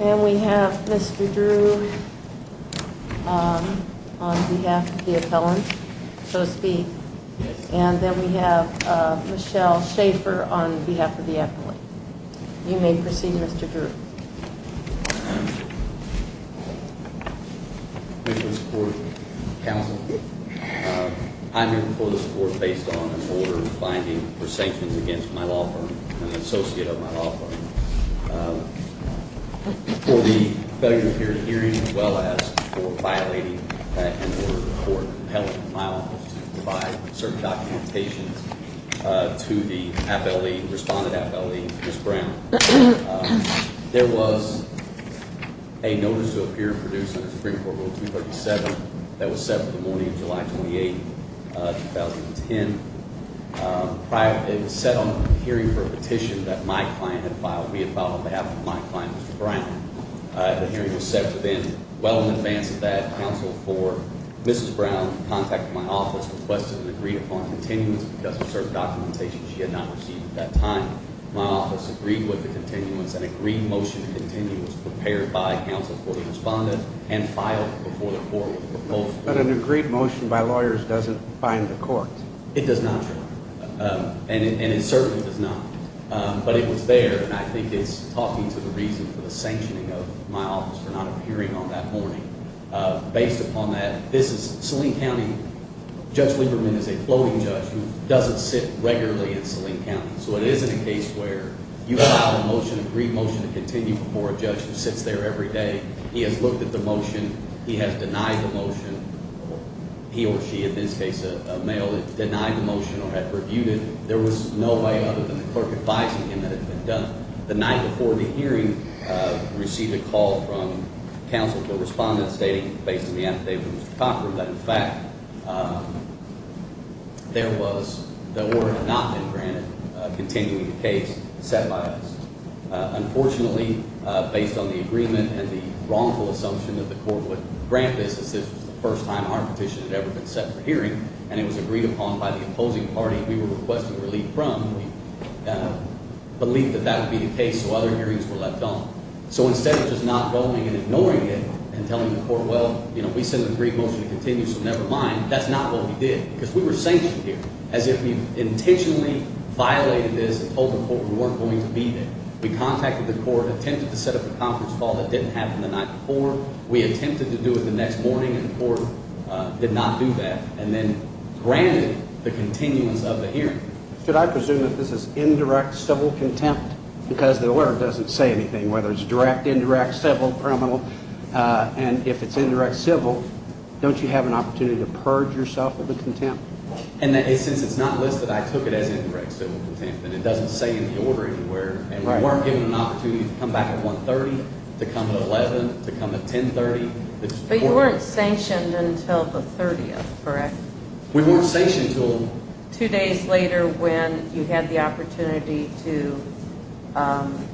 And we have Mr. Drew on behalf of the appellant, so to speak, and then we have Michelle Shaffer on behalf of the appellant. You may proceed, Mr. Drew. I'm here for the support based on an order finding for sanctions against my law firm, an associate of my law firm. For the failure to appear at hearings as well as for violating an order of the court, my office provides certain documentation to the appellee, respondent appellee, Ms. Brown. There was a notice to appear and produce under Supreme Court Rule 237 that was set for the morning of July 28, 2010. It was set on the hearing for a petition that my client had filed. We had filed on behalf of my client, Mr. Brown. The hearing was set for then well in advance of that. Counsel for Mrs. Brown contacted my office, requested and agreed upon continuance because of certain documentation she had not received at that time. My office agreed with the continuance and agreed motion to continue was prepared by counsel for the respondent and filed before the court. But an agreed motion by lawyers doesn't bind the court. It does not, sir. And it certainly does not. But it was there, and I think it's talking to the reason for the sanctioning of my office for not appearing on that morning. Based upon that, this is Saline County. Judge Lieberman is a floating judge who doesn't sit regularly in Saline County. So it isn't a case where you allow a motion, an agreed motion, to continue before a judge who sits there every day. He has looked at the motion. He has denied the motion. He or she, in this case a male, had denied the motion or had reviewed it. There was no way other than the clerk advising him that it had been done. The night before the hearing, we received a call from counsel to a respondent stating, based on the antidote from Mr. Cochran, that, in fact, the order had not been granted continuing the case set by us. Unfortunately, based on the agreement and the wrongful assumption that the court would grant this, this was the first time our petition had ever been set for hearing, and it was agreed upon by the opposing party we were requesting relief from. We believed that that would be the case, so other hearings were left on. So instead of just not voting and ignoring it and telling the court, well, you know, we sent an agreed motion to continue, so never mind, that's not what we did because we were sanctioned here, as if we intentionally violated this and told the court we weren't going to be there. We contacted the court, attempted to set up a conference call that didn't happen the night before. We attempted to do it the next morning, and the court did not do that, and then granted the continuance of the hearing. Should I presume that this is indirect civil contempt because the order doesn't say anything, whether it's direct, indirect, civil, criminal, and if it's indirect civil, don't you have an opportunity to purge yourself of the contempt? And since it's not listed, I took it as indirect civil contempt, and it doesn't say in the order anywhere, and we weren't given an opportunity to come back at 1.30, to come at 11, to come at 10.30. But you weren't sanctioned until the 30th, correct? We weren't sanctioned until... Two days later when you had the opportunity to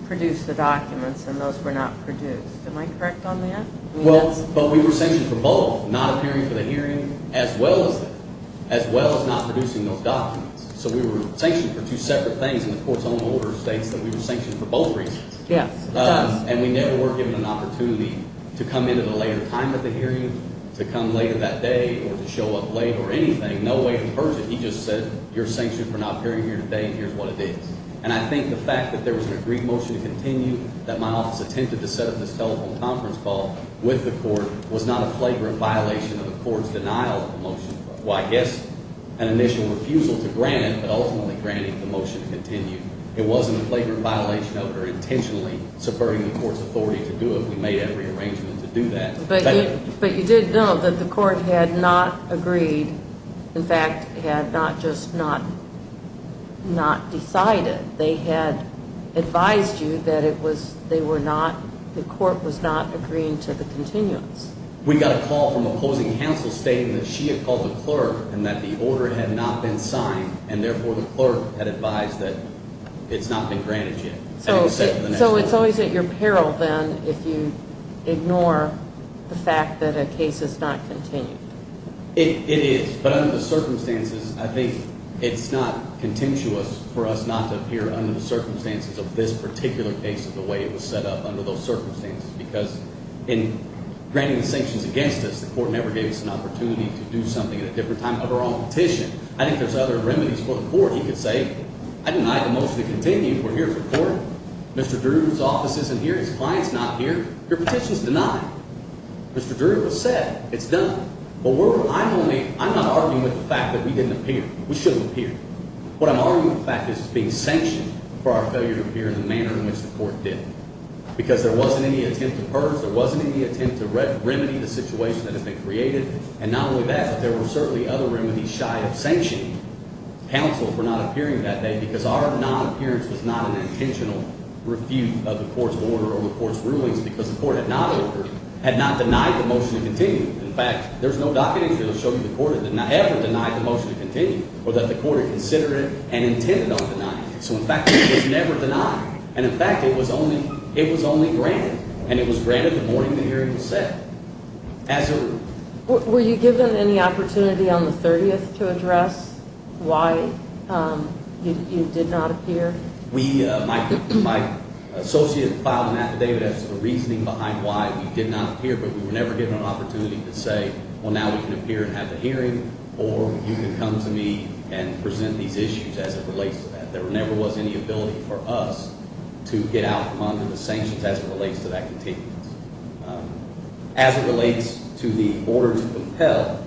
produce the documents, and those were not produced. Am I correct on that? Well, but we were sanctioned for both, not appearing for the hearing as well as not producing those documents. So we were sanctioned for two separate things, and the court's own order states that we were sanctioned for both reasons. Yes, it does. And we never were given an opportunity to come into the later time of the hearing, to come later that day, or to show up late, or anything. No way to purge it. He just said, you're sanctioned for not appearing here today, and here's what it is. And I think the fact that there was an agreed motion to continue, that my office attempted to set up this telephone conference call with the court, was not a flagrant violation of the court's denial of the motion. Well, I guess an initial refusal to grant it, but ultimately granting the motion to continue. It wasn't a flagrant violation of it, or intentionally subverting the court's authority to do it. We made every arrangement to do that. But you did know that the court had not agreed, in fact, had not just not decided. They had advised you that it was, they were not, the court was not agreeing to the continuance. We got a call from opposing counsel stating that she had called the clerk, and that the order had not been signed, and therefore the clerk had advised that it's not been granted yet. So it's always at your peril, then, if you ignore the fact that a case is not continued. It is, but under the circumstances, I think it's not contentious for us not to appear under the circumstances of this particular case, the way it was set up under those circumstances. Because in granting the sanctions against us, the court never gave us an opportunity to do something at a different time of our own petition. I think there's other remedies for the court. He could say, I deny the motion to continue, we're here to support it. Mr. Drew's office isn't here, his client's not here, your petition's denied. Mr. Drew has said, it's done. But we're, I'm only, I'm not arguing with the fact that we didn't appear. We shouldn't appear. What I'm arguing with the fact is it's being sanctioned for our failure to appear in the manner in which the court did. Because there wasn't any attempt to purge, there wasn't any attempt to remedy the situation that had been created. And not only that, but there were certainly other remedies shy of sanctioning counsel for not appearing that day, because our non-appearance was not an intentional refute of the court's order or the court's rulings, because the court had not ordered, had not denied the motion to continue. In fact, there's no documentation that will show you the court had not ever denied the motion to continue, or that the court had considered it and intended on denying it. So, in fact, it was never denied. And, in fact, it was only granted. And it was granted the morning the hearing was set. Were you given any opportunity on the 30th to address why you did not appear? My associate filed an affidavit as to the reasoning behind why we did not appear, but we were never given an opportunity to say, well, now we can appear and have the hearing, or you can come to me and present these issues as it relates to that. There never was any ability for us to get out under the sanctions as it relates to that contingency. As it relates to the order to compel,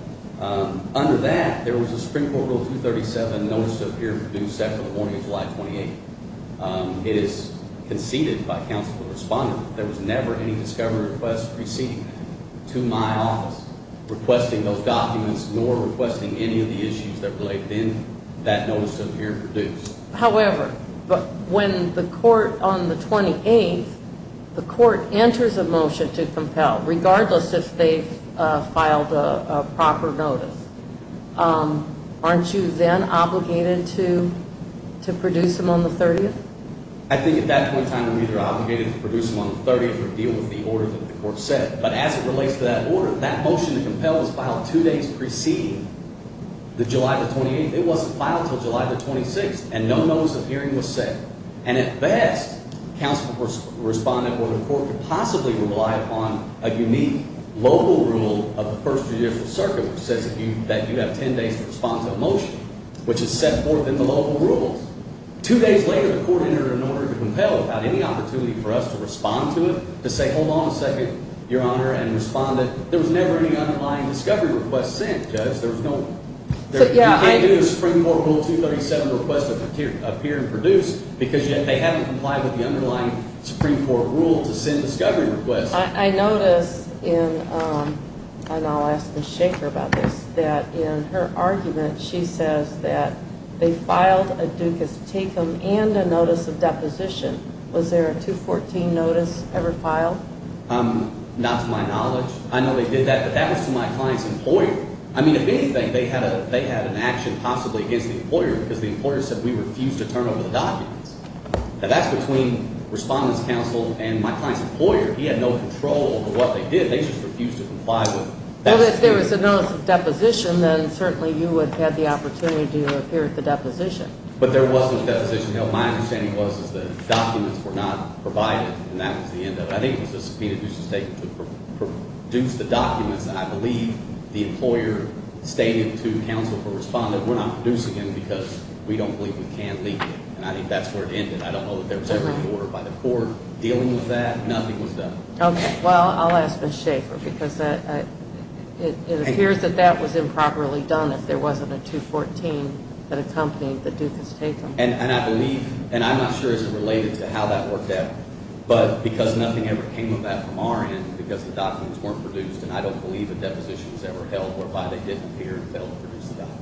under that there was a Supreme Court Rule 237 notice to appear and produce after the morning of July 28th. It is conceded by counsel and respondent that there was never any discovery request received to my office requesting those documents nor requesting any of the issues that related in that notice to appear and produce. However, when the court on the 28th, the court enters a motion to compel, regardless if they filed a proper notice, aren't you then obligated to produce them on the 30th? I think at that point in time we were either obligated to produce them on the 30th or deal with the order that the court set. But as it relates to that order, that motion to compel was filed two days preceding the July 28th. It wasn't filed until July 26th, and no notice of hearing was sent. And at best, counsel and respondent would report to possibly rely upon a unique local rule of the First Judicial Circuit which says that you have ten days to respond to a motion, which is set forth in the local rules. Two days later, the court entered an order to compel without any opportunity for us to respond to it, to say hold on a second, Your Honor, and respond that there was never any underlying discovery request sent, Judge. There was no – you can't do a Supreme Court Rule 237 request to appear and produce because they haven't complied with the underlying Supreme Court rule to send discovery requests. I notice in – and I'll ask Ms. Shacher about this – that in her argument, she says that they filed a ducus tecum and a notice of deposition. Was there a 214 notice ever filed? Not to my knowledge. I know they did that, but that was to my client's employer. I mean, if anything, they had an action possibly against the employer because the employer said we refuse to turn over the documents. Now, that's between respondent's counsel and my client's employer. He had no control over what they did. They just refused to comply with that. Well, if there was a notice of deposition, then certainly you would have had the opportunity to appear at the deposition. But there wasn't a deposition. My understanding was that documents were not provided, and that was the end of it. I think it was a subpoena ducus tecum to produce the documents. And I believe the employer stated to counsel or respondent, we're not producing them because we don't believe we can legally. And I think that's where it ended. I don't know that there was ever an order by the court dealing with that. Nothing was done. Okay. Well, I'll ask Ms. Shacher because it appears that that was improperly done if there wasn't a 214 that accompanied the ducus tecum. And I believe – and I'm not sure as to how that worked out, but because nothing ever came of that from our end because the documents weren't produced, and I don't believe a deposition was ever held whereby they didn't appear and fail to produce the documents.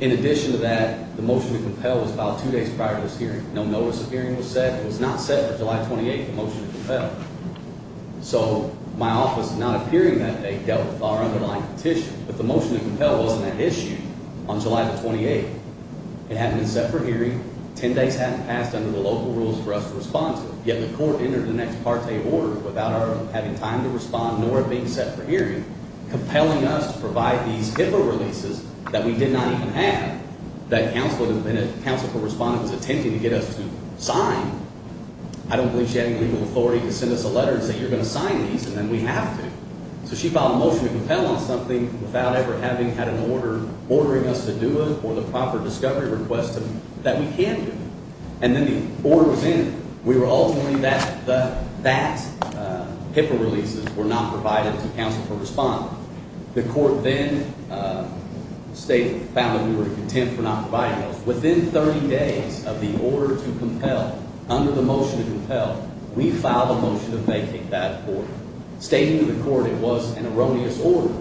In addition to that, the motion to compel was filed two days prior to this hearing. No notice of hearing was set. It was not set for July 28th, the motion to compel. So my office, not appearing that day, dealt with our underlying petition. But the motion to compel wasn't an issue on July the 28th. It hadn't been set for hearing. Ten days hadn't passed under the local rules for us to respond to. Yet the court entered the next parte order without our having time to respond, nor it being set for hearing, compelling us to provide these HIPAA releases that we did not even have, that counsel had been at – counsel for responding was attempting to get us to sign. I don't believe she had any legal authority to send us a letter and say, you're going to sign these, and then we have to. So she filed a motion to compel on something without ever having had an order ordering us to do it or the proper discovery request that we can do it. And then the order was in. We were ultimately – that HIPAA releases were not provided to counsel for responding. The court then stated – found that we were content for not providing those. Within 30 days of the order to compel, under the motion to compel, we filed a motion that they kicked out of court, stating to the court it was an erroneous order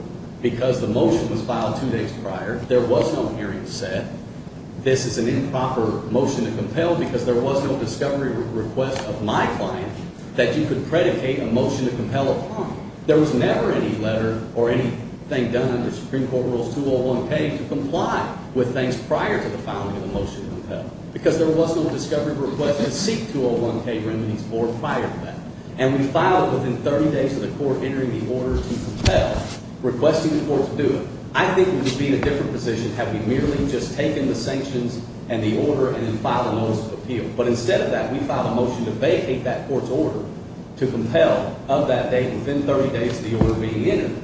because the motion was filed two days prior. There was no hearing set. This is an improper motion to compel because there was no discovery request of my client that you could predicate a motion to compel upon. There was never any letter or anything done under Supreme Court Rules 201K to comply with things prior to the filing of the motion to compel because there was no discovery request to seek 201K remedies or prior to that. And we filed it within 30 days of the court entering the order to compel, requesting the court to do it. I think we would be in a different position had we merely just taken the sanctions and the order and then filed a notice of appeal. But instead of that, we filed a motion to vacate that court's order to compel of that date within 30 days of the order being entered.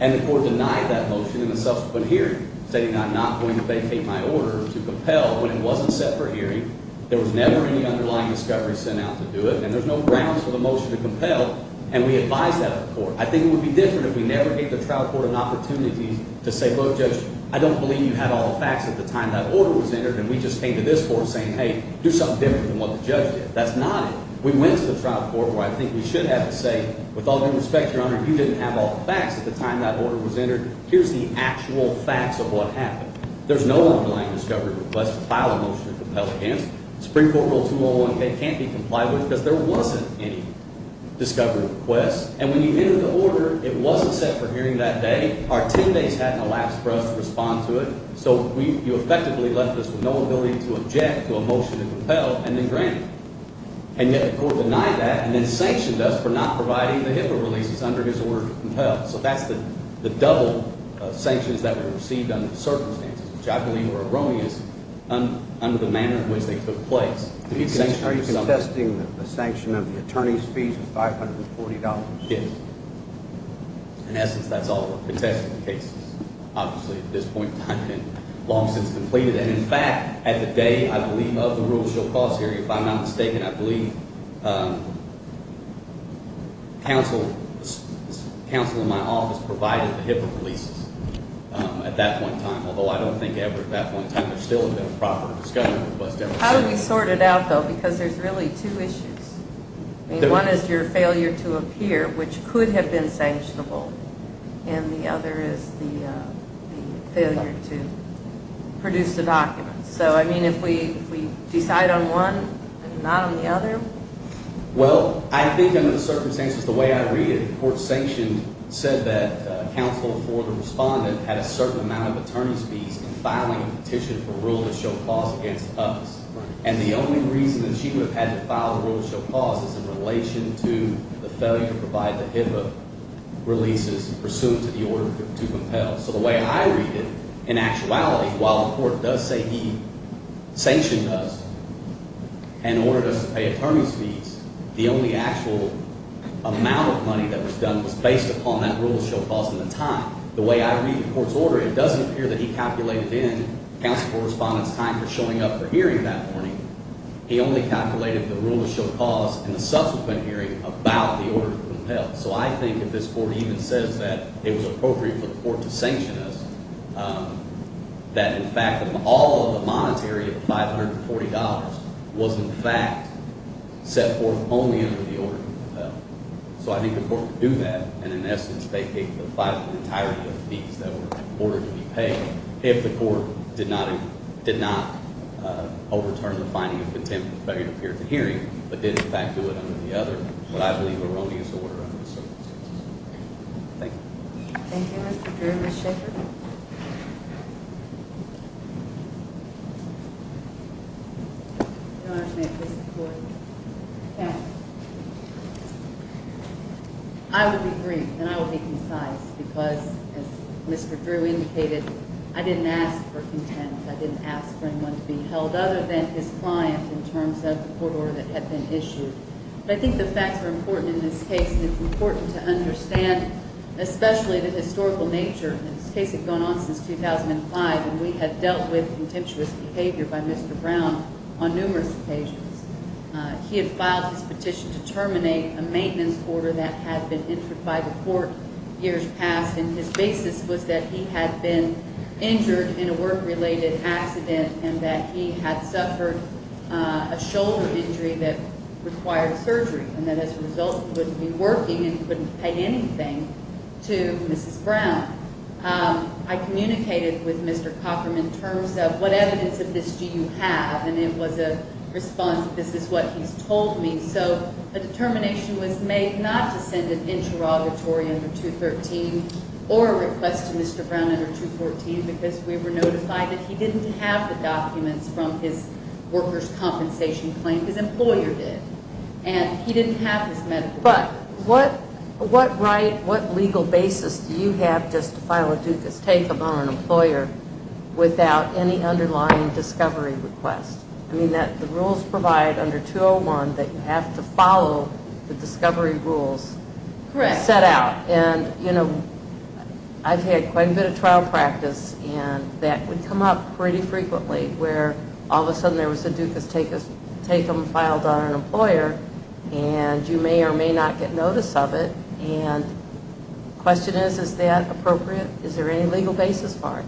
And the court denied that motion in the subsequent hearing, stating I'm not going to vacate my order to compel when it wasn't set for hearing. There was never any underlying discovery sent out to do it. And there's no grounds for the motion to compel, and we advised that of the court. I think it would be different if we never gave the trial court an opportunity to say, Look, Judge, I don't believe you had all the facts at the time that order was entered, and we just came to this court saying, Hey, do something different than what the judge did. That's not it. We went to the trial court where I think we should have to say, With all due respect, Your Honor, you didn't have all the facts at the time that order was entered. Here's the actual facts of what happened. There's no underlying discovery request to file a motion to compel against. Supreme Court Rule 201K can't be complied with because there wasn't any discovery request. And when you entered the order, it wasn't set for hearing that day. Our 10 days hadn't elapsed for us to respond to it. So you effectively left us with no ability to object to a motion to compel and then grant it. And yet the court denied that and then sanctioned us for not providing the HIPAA releases under his order to compel. So that's the double sanctions that we received under the circumstances, which I believe were erroneous under the manner in which they took place. Are you contesting the sanction of the attorney's fees of $540? Yes. In essence, that's all we're contesting the cases. Obviously, at this point in time, it had been long since completed. And, in fact, at the day, I believe, of the rule, she'll cause hearing. If I'm not mistaken, I believe counsel in my office provided the HIPAA releases at that point in time, although I don't think ever at that point in time there's still been a proper discovery of what's demonstrated. How do we sort it out, though? Because there's really two issues. I mean, one is your failure to appear, which could have been sanctionable, and the other is the failure to produce the documents. So, I mean, if we decide on one and not on the other? Well, I think under the circumstances, the way I read it, the court sanctioned said that counsel for the respondent had a certain amount of attorney's fees in filing a petition for rule to show clause against us. And the only reason that she would have had to file the rule to show clause is in relation to the failure to provide the HIPAA releases pursuant to the order to compel. So the way I read it, in actuality, while the court does say he sanctioned us and ordered us to pay attorney's fees, the only actual amount of money that was done was based upon that rule to show clause in the time. The way I read the court's order, it doesn't appear that he calculated in counsel for respondent's time for showing up for hearing that morning. He only calculated the rule to show clause in the subsequent hearing about the order to compel. So I think if this court even says that it was appropriate for the court to sanction us, that, in fact, all of the monetary of $540 was, in fact, set forth only under the order to compel. So I think the court could do that. And in essence, they paid the entirety of the fees that were ordered to be paid. If the court did not overturn the finding of contempt of failure to appear at the hearing, but did, in fact, do it under the other, what I believe, erroneous order under the circumstances. Thank you. Thank you, Mr. Drew. Ms. Shaffer? I will be brief and I will be concise because, as Mr. Drew indicated, I didn't ask for contempt. I didn't ask for anyone to be held other than his client in terms of the court order that had been issued. But I think the facts are important in this case, and it's important to understand, especially the historical nature. This case had gone on since 2005, and we had dealt with contemptuous behavior by Mr. Brown on numerous occasions. He had filed his petition to terminate a maintenance order that had been entered by the court years past, and his basis was that he had been injured in a work-related accident and that he had suffered a shoulder injury that required surgery, and that as a result he wouldn't be working and couldn't pay anything to Mrs. Brown. I communicated with Mr. Cockram in terms of what evidence of this do you have, and it was a response that this is what he's told me. So a determination was made not to send an interrogatory under 213 or a request to Mr. Brown under 214 because we were notified that he didn't have the documents from his workers' compensation claim. His employer did, and he didn't have his medical records. But what right, what legal basis do you have just to file a Dukas take-up on an employer without any underlying discovery request? I mean, the rules provide under 201 that you have to follow the discovery rules set out. And, you know, I've had quite a bit of trial practice, and that would come up pretty frequently where all of a sudden there was a Dukas take-up filed on an employer, and you may or may not get notice of it. And the question is, is that appropriate? Is there any legal basis for it?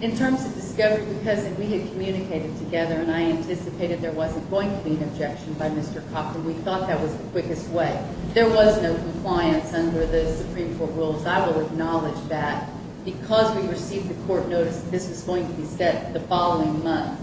In terms of discovery, because we had communicated together, and I anticipated there wasn't going to be an objection by Mr. Cockram, we thought that was the quickest way. There was no compliance under the Supreme Court rules. I will acknowledge that. Because we received the court notice that this was going to be set the following month,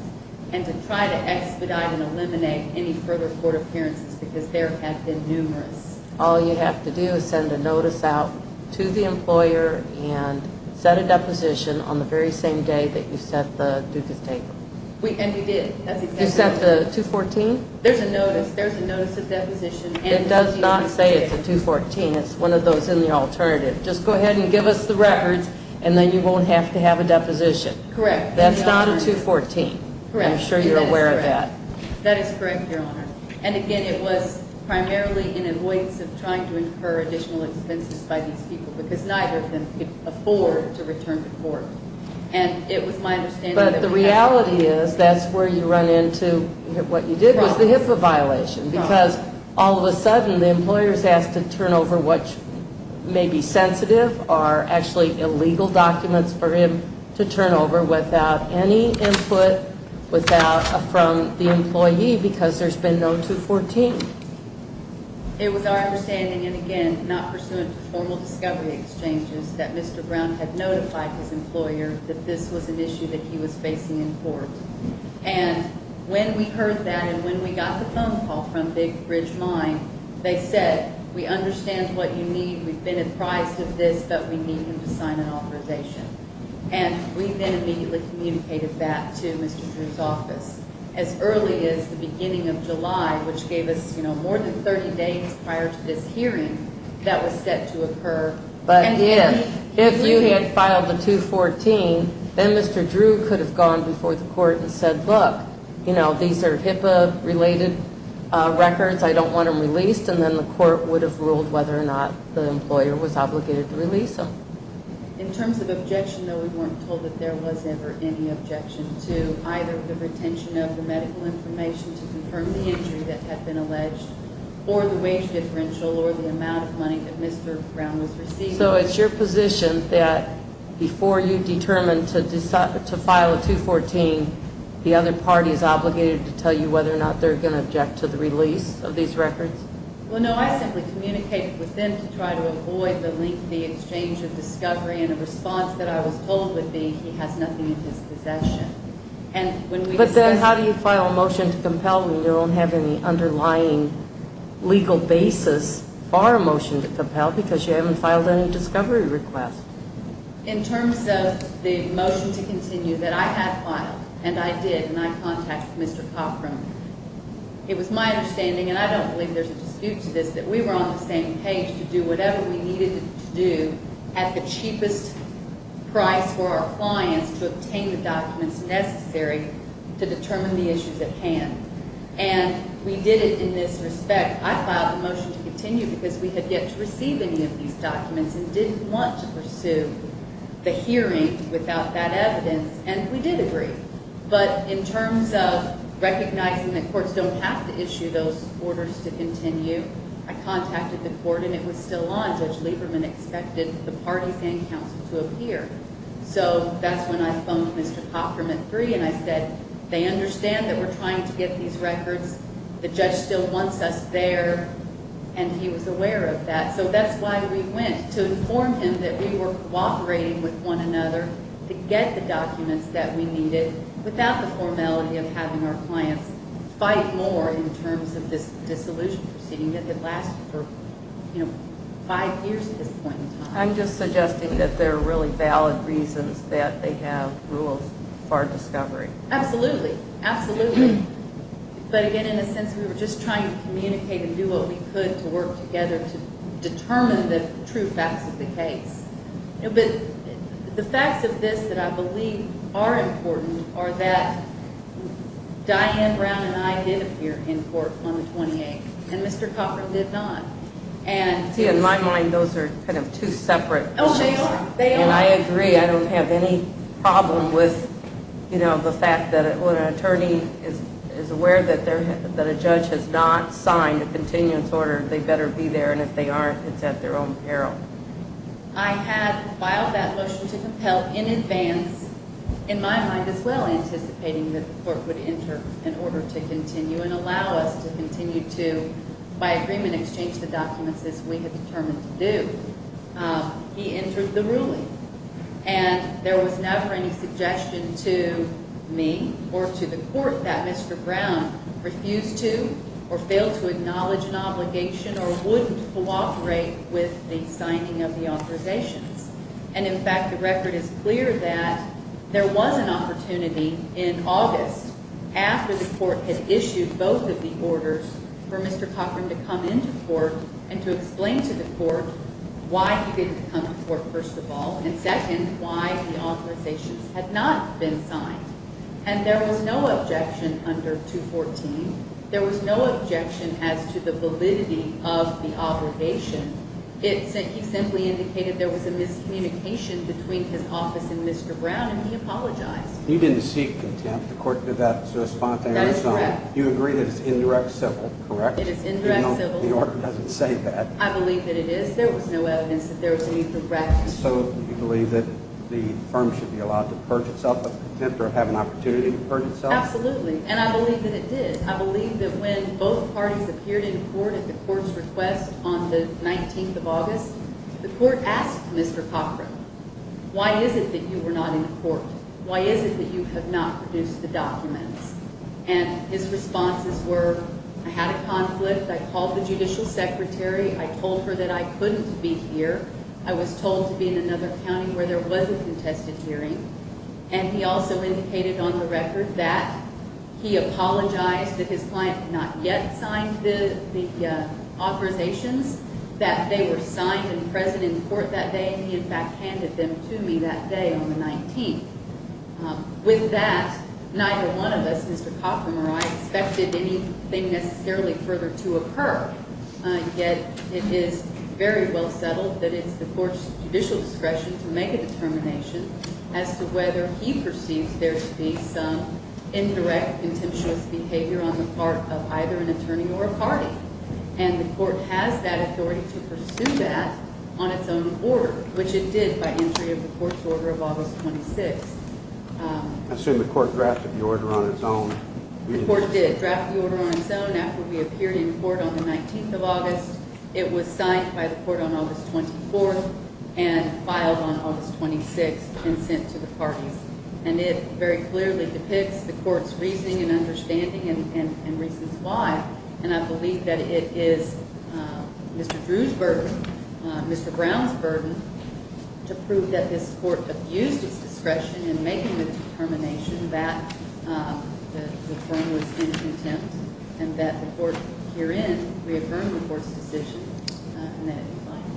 and to try to expedite and eliminate any further court appearances because there have been numerous. All you have to do is send a notice out to the employer and set a deposition on the very same day that you set the Dukas take-up. And we did. You set the 214? There's a notice. There's a notice of deposition. It does not say it's a 214. It's one of those in the alternative. Just go ahead and give us the records, and then you won't have to have a deposition. Correct. That's not a 214. Correct. I'm sure you're aware of that. That is correct, Your Honor. And, again, it was primarily in avoidance of trying to incur additional expenses by these people because neither of them could afford to return to court. And it was my understanding that we had to. But the reality is that's where you run into what you did was the HIPAA violation because all of a sudden the employer is asked to turn over what may be sensitive or actually illegal documents for him to turn over without any input from the employee because there's been no 214. It was our understanding, and, again, not pursuant to formal discovery exchanges, that Mr. Brown had notified his employer that this was an issue that he was facing in court. And when we heard that and when we got the phone call from Big Bridge Mine, they said, We understand what you need. We've been apprised of this, but we need him to sign an authorization. And we then immediately communicated that to Mr. Drew's office as early as the beginning of July, which gave us more than 30 days prior to this hearing that was set to occur. But if you had filed a 214, then Mr. Drew could have gone before the court and said, Look, these are HIPAA-related records. I don't want them released. And then the court would have ruled whether or not the employer was obligated to release them. In terms of objection, though, we weren't told that there was ever any objection to either the retention of the medical information to confirm the injury that had been alleged or the wage differential or the amount of money that Mr. Brown was receiving. So it's your position that before you determine to file a 214, the other party is obligated to tell you whether or not they're going to object to the release of these records? Well, no. I simply communicated with them to try to avoid the lengthy exchange of discovery, and a response that I was told would be, He has nothing in his possession. But then how do you file a motion to compel when you don't have any underlying legal basis for a motion to compel because you haven't filed any discovery request? In terms of the motion to continue that I had filed, and I did, and I contacted Mr. Cochran, it was my understanding, and I don't believe there's a dispute to this, that we were on the same page to do whatever we needed to do at the cheapest price for our clients to obtain the documents necessary to determine the issues at hand. And we did it in this respect. I filed the motion to continue because we had yet to receive any of these documents and didn't want to pursue the hearing without that evidence, and we did agree. But in terms of recognizing that courts don't have to issue those orders to continue, I contacted the court, and it was still on. Judge Lieberman expected the parties and counsel to appear. So that's when I phoned Mr. Cochran at 3, and I said, They understand that we're trying to get these records. The judge still wants us there, and he was aware of that. So that's why we went, to inform him that we were cooperating with one another to get the documents that we needed without the formality of having our clients fight more in terms of this dissolution proceeding that had lasted for five years at this point in time. I'm just suggesting that there are really valid reasons that they have rules for discovery. Absolutely, absolutely. But again, in a sense, we were just trying to communicate and do what we could to work together to determine the true facts of the case. But the facts of this that I believe are important are that Diane Brown and I did appear in court on the 28th, and Mr. Cochran did not. See, in my mind, those are kind of two separate issues. And I agree. I don't have any problem with the fact that when an attorney is aware that a judge has not signed a continuance order, they better be there, and if they aren't, it's at their own peril. I had filed that motion to compel in advance, in my mind as well, anticipating that the court would enter in order to continue and allow us to continue to, by agreement, exchange the documents as we had determined to do. He entered the ruling, and there was never any suggestion to me or to the court that Mr. Brown refused to or failed to acknowledge an obligation or wouldn't cooperate with the signing of the authorizations. And, in fact, the record is clear that there was an opportunity in August, after the court had issued both of the orders, for Mr. Cochran to come into court and to explain to the court why he didn't come to court, first of all, and, second, why the authorizations had not been signed. And there was no objection under 214. There was no objection as to the validity of the obligation. He simply indicated there was a miscommunication between his office and Mr. Brown, and he apologized. You didn't seek contempt. The court did that spontaneously. That is correct. You agree that it's indirect civil, correct? It is indirect civil. The order doesn't say that. I believe that it is. There was no evidence that there was any direct. So you believe that the firm should be allowed to purge itself of contempt or have an opportunity to purge itself? Absolutely, and I believe that it did. I believe that when both parties appeared in court at the court's request on the 19th of August, the court asked Mr. Cochran, why is it that you were not in court? Why is it that you have not produced the documents? And his responses were, I had a conflict. I called the judicial secretary. I told her that I couldn't be here. I was told to be in another county where there was a contested hearing, and he also indicated on the record that he apologized that his client had not yet signed the authorizations, that they were signed and present in court that day, and he in fact handed them to me that day on the 19th. With that, neither one of us, Mr. Cochran or I, expected anything necessarily further to occur, yet it is very well settled that it's the court's judicial discretion to make a determination as to whether he perceives there to be some indirect, contentious behavior on the part of either an attorney or a party, and the court has that authority to pursue that on its own order, which it did by entry of the court's order of August 26th. I assume the court drafted the order on its own. The court did draft the order on its own after we appeared in court on the 19th of August. It was signed by the court on August 24th and filed on August 26th and sent to the parties, and it very clearly depicts the court's reasoning and understanding and reasons why, and I believe that it is Mr. Drew's burden, Mr. Brown's burden, to prove that this court abused its discretion in making the determination that the firm was in contempt and that the court herein reaffirmed the court's decision and that it declined.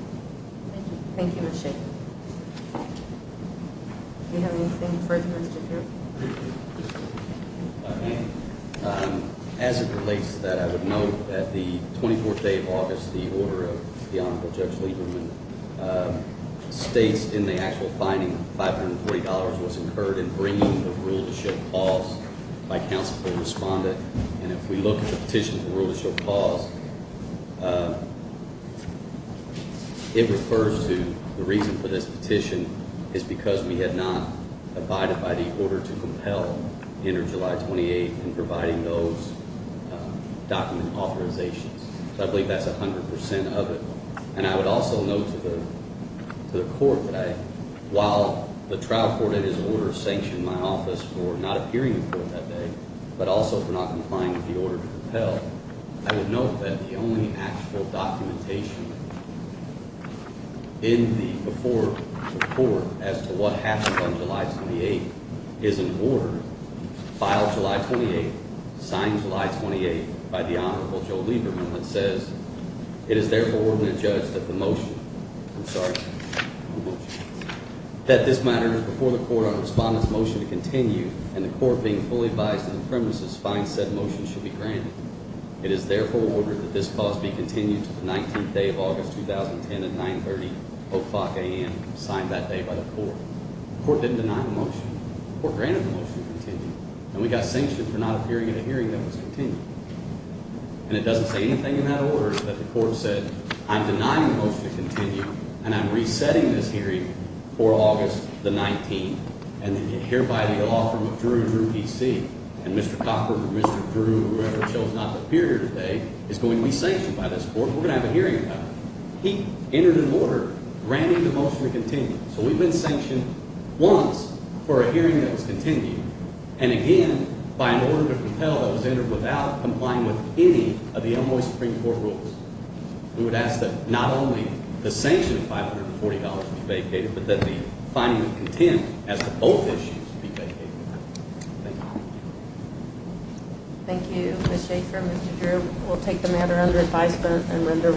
Thank you. Thank you, Ms. Shaffer. Do you have anything further, Mr. Drew? If I may, as it relates to that, I would note that the 24th day of August, the order of the Honorable Judge Lieberman states in the actual finding, $540 was incurred in bringing the rule to show pause by counsel for the respondent, and if we look at the petition for the rule to show pause, it refers to the reason for this petition is because we had not abided by the order to compel the end of July 28th in providing those document authorizations. So I believe that's 100 percent of it, and I would also note to the court that I, while the trial court in his order sanctioned my office for not appearing in court that day but also for not complying with the order to compel, I would note that the only actual documentation in the before report as to what happened on July 28th is in order, filed July 28th, signed July 28th by the Honorable Joe Lieberman, that says it is therefore ordered the judge that the motion, I'm sorry, that this matter is before the court on a respondent's motion to continue and the court being fully biased in the premises finds said motion should be granted. It is therefore ordered that this clause be continued to the 19th day of August 2010 at 9.30 o'clock a.m., signed that day by the court. The court didn't deny the motion. The court granted the motion to continue, and we got sanctioned for not appearing in a hearing that was continued. And it doesn't say anything in that order that the court said, I'm denying the motion to continue and I'm resetting this hearing for August the 19th, and then you hear by the law firm of Drew, Drew, D.C., and Mr. Cochran or Mr. Drew or whoever chose not to appear here today is going to be sanctioned by this court and we're going to have a hearing about it. He entered an order granting the motion to continue. So we've been sanctioned once for a hearing that was continued, and again by an order to compel that was entered without complying with any of the Elmwood Supreme Court rules. We would ask that not only the sanction of $540 be vacated, but that the finding of contempt as to both issues be vacated. Thank you. Thank you, Mr. Schaffer, Mr. Drew. We'll take the matter under advisement and render.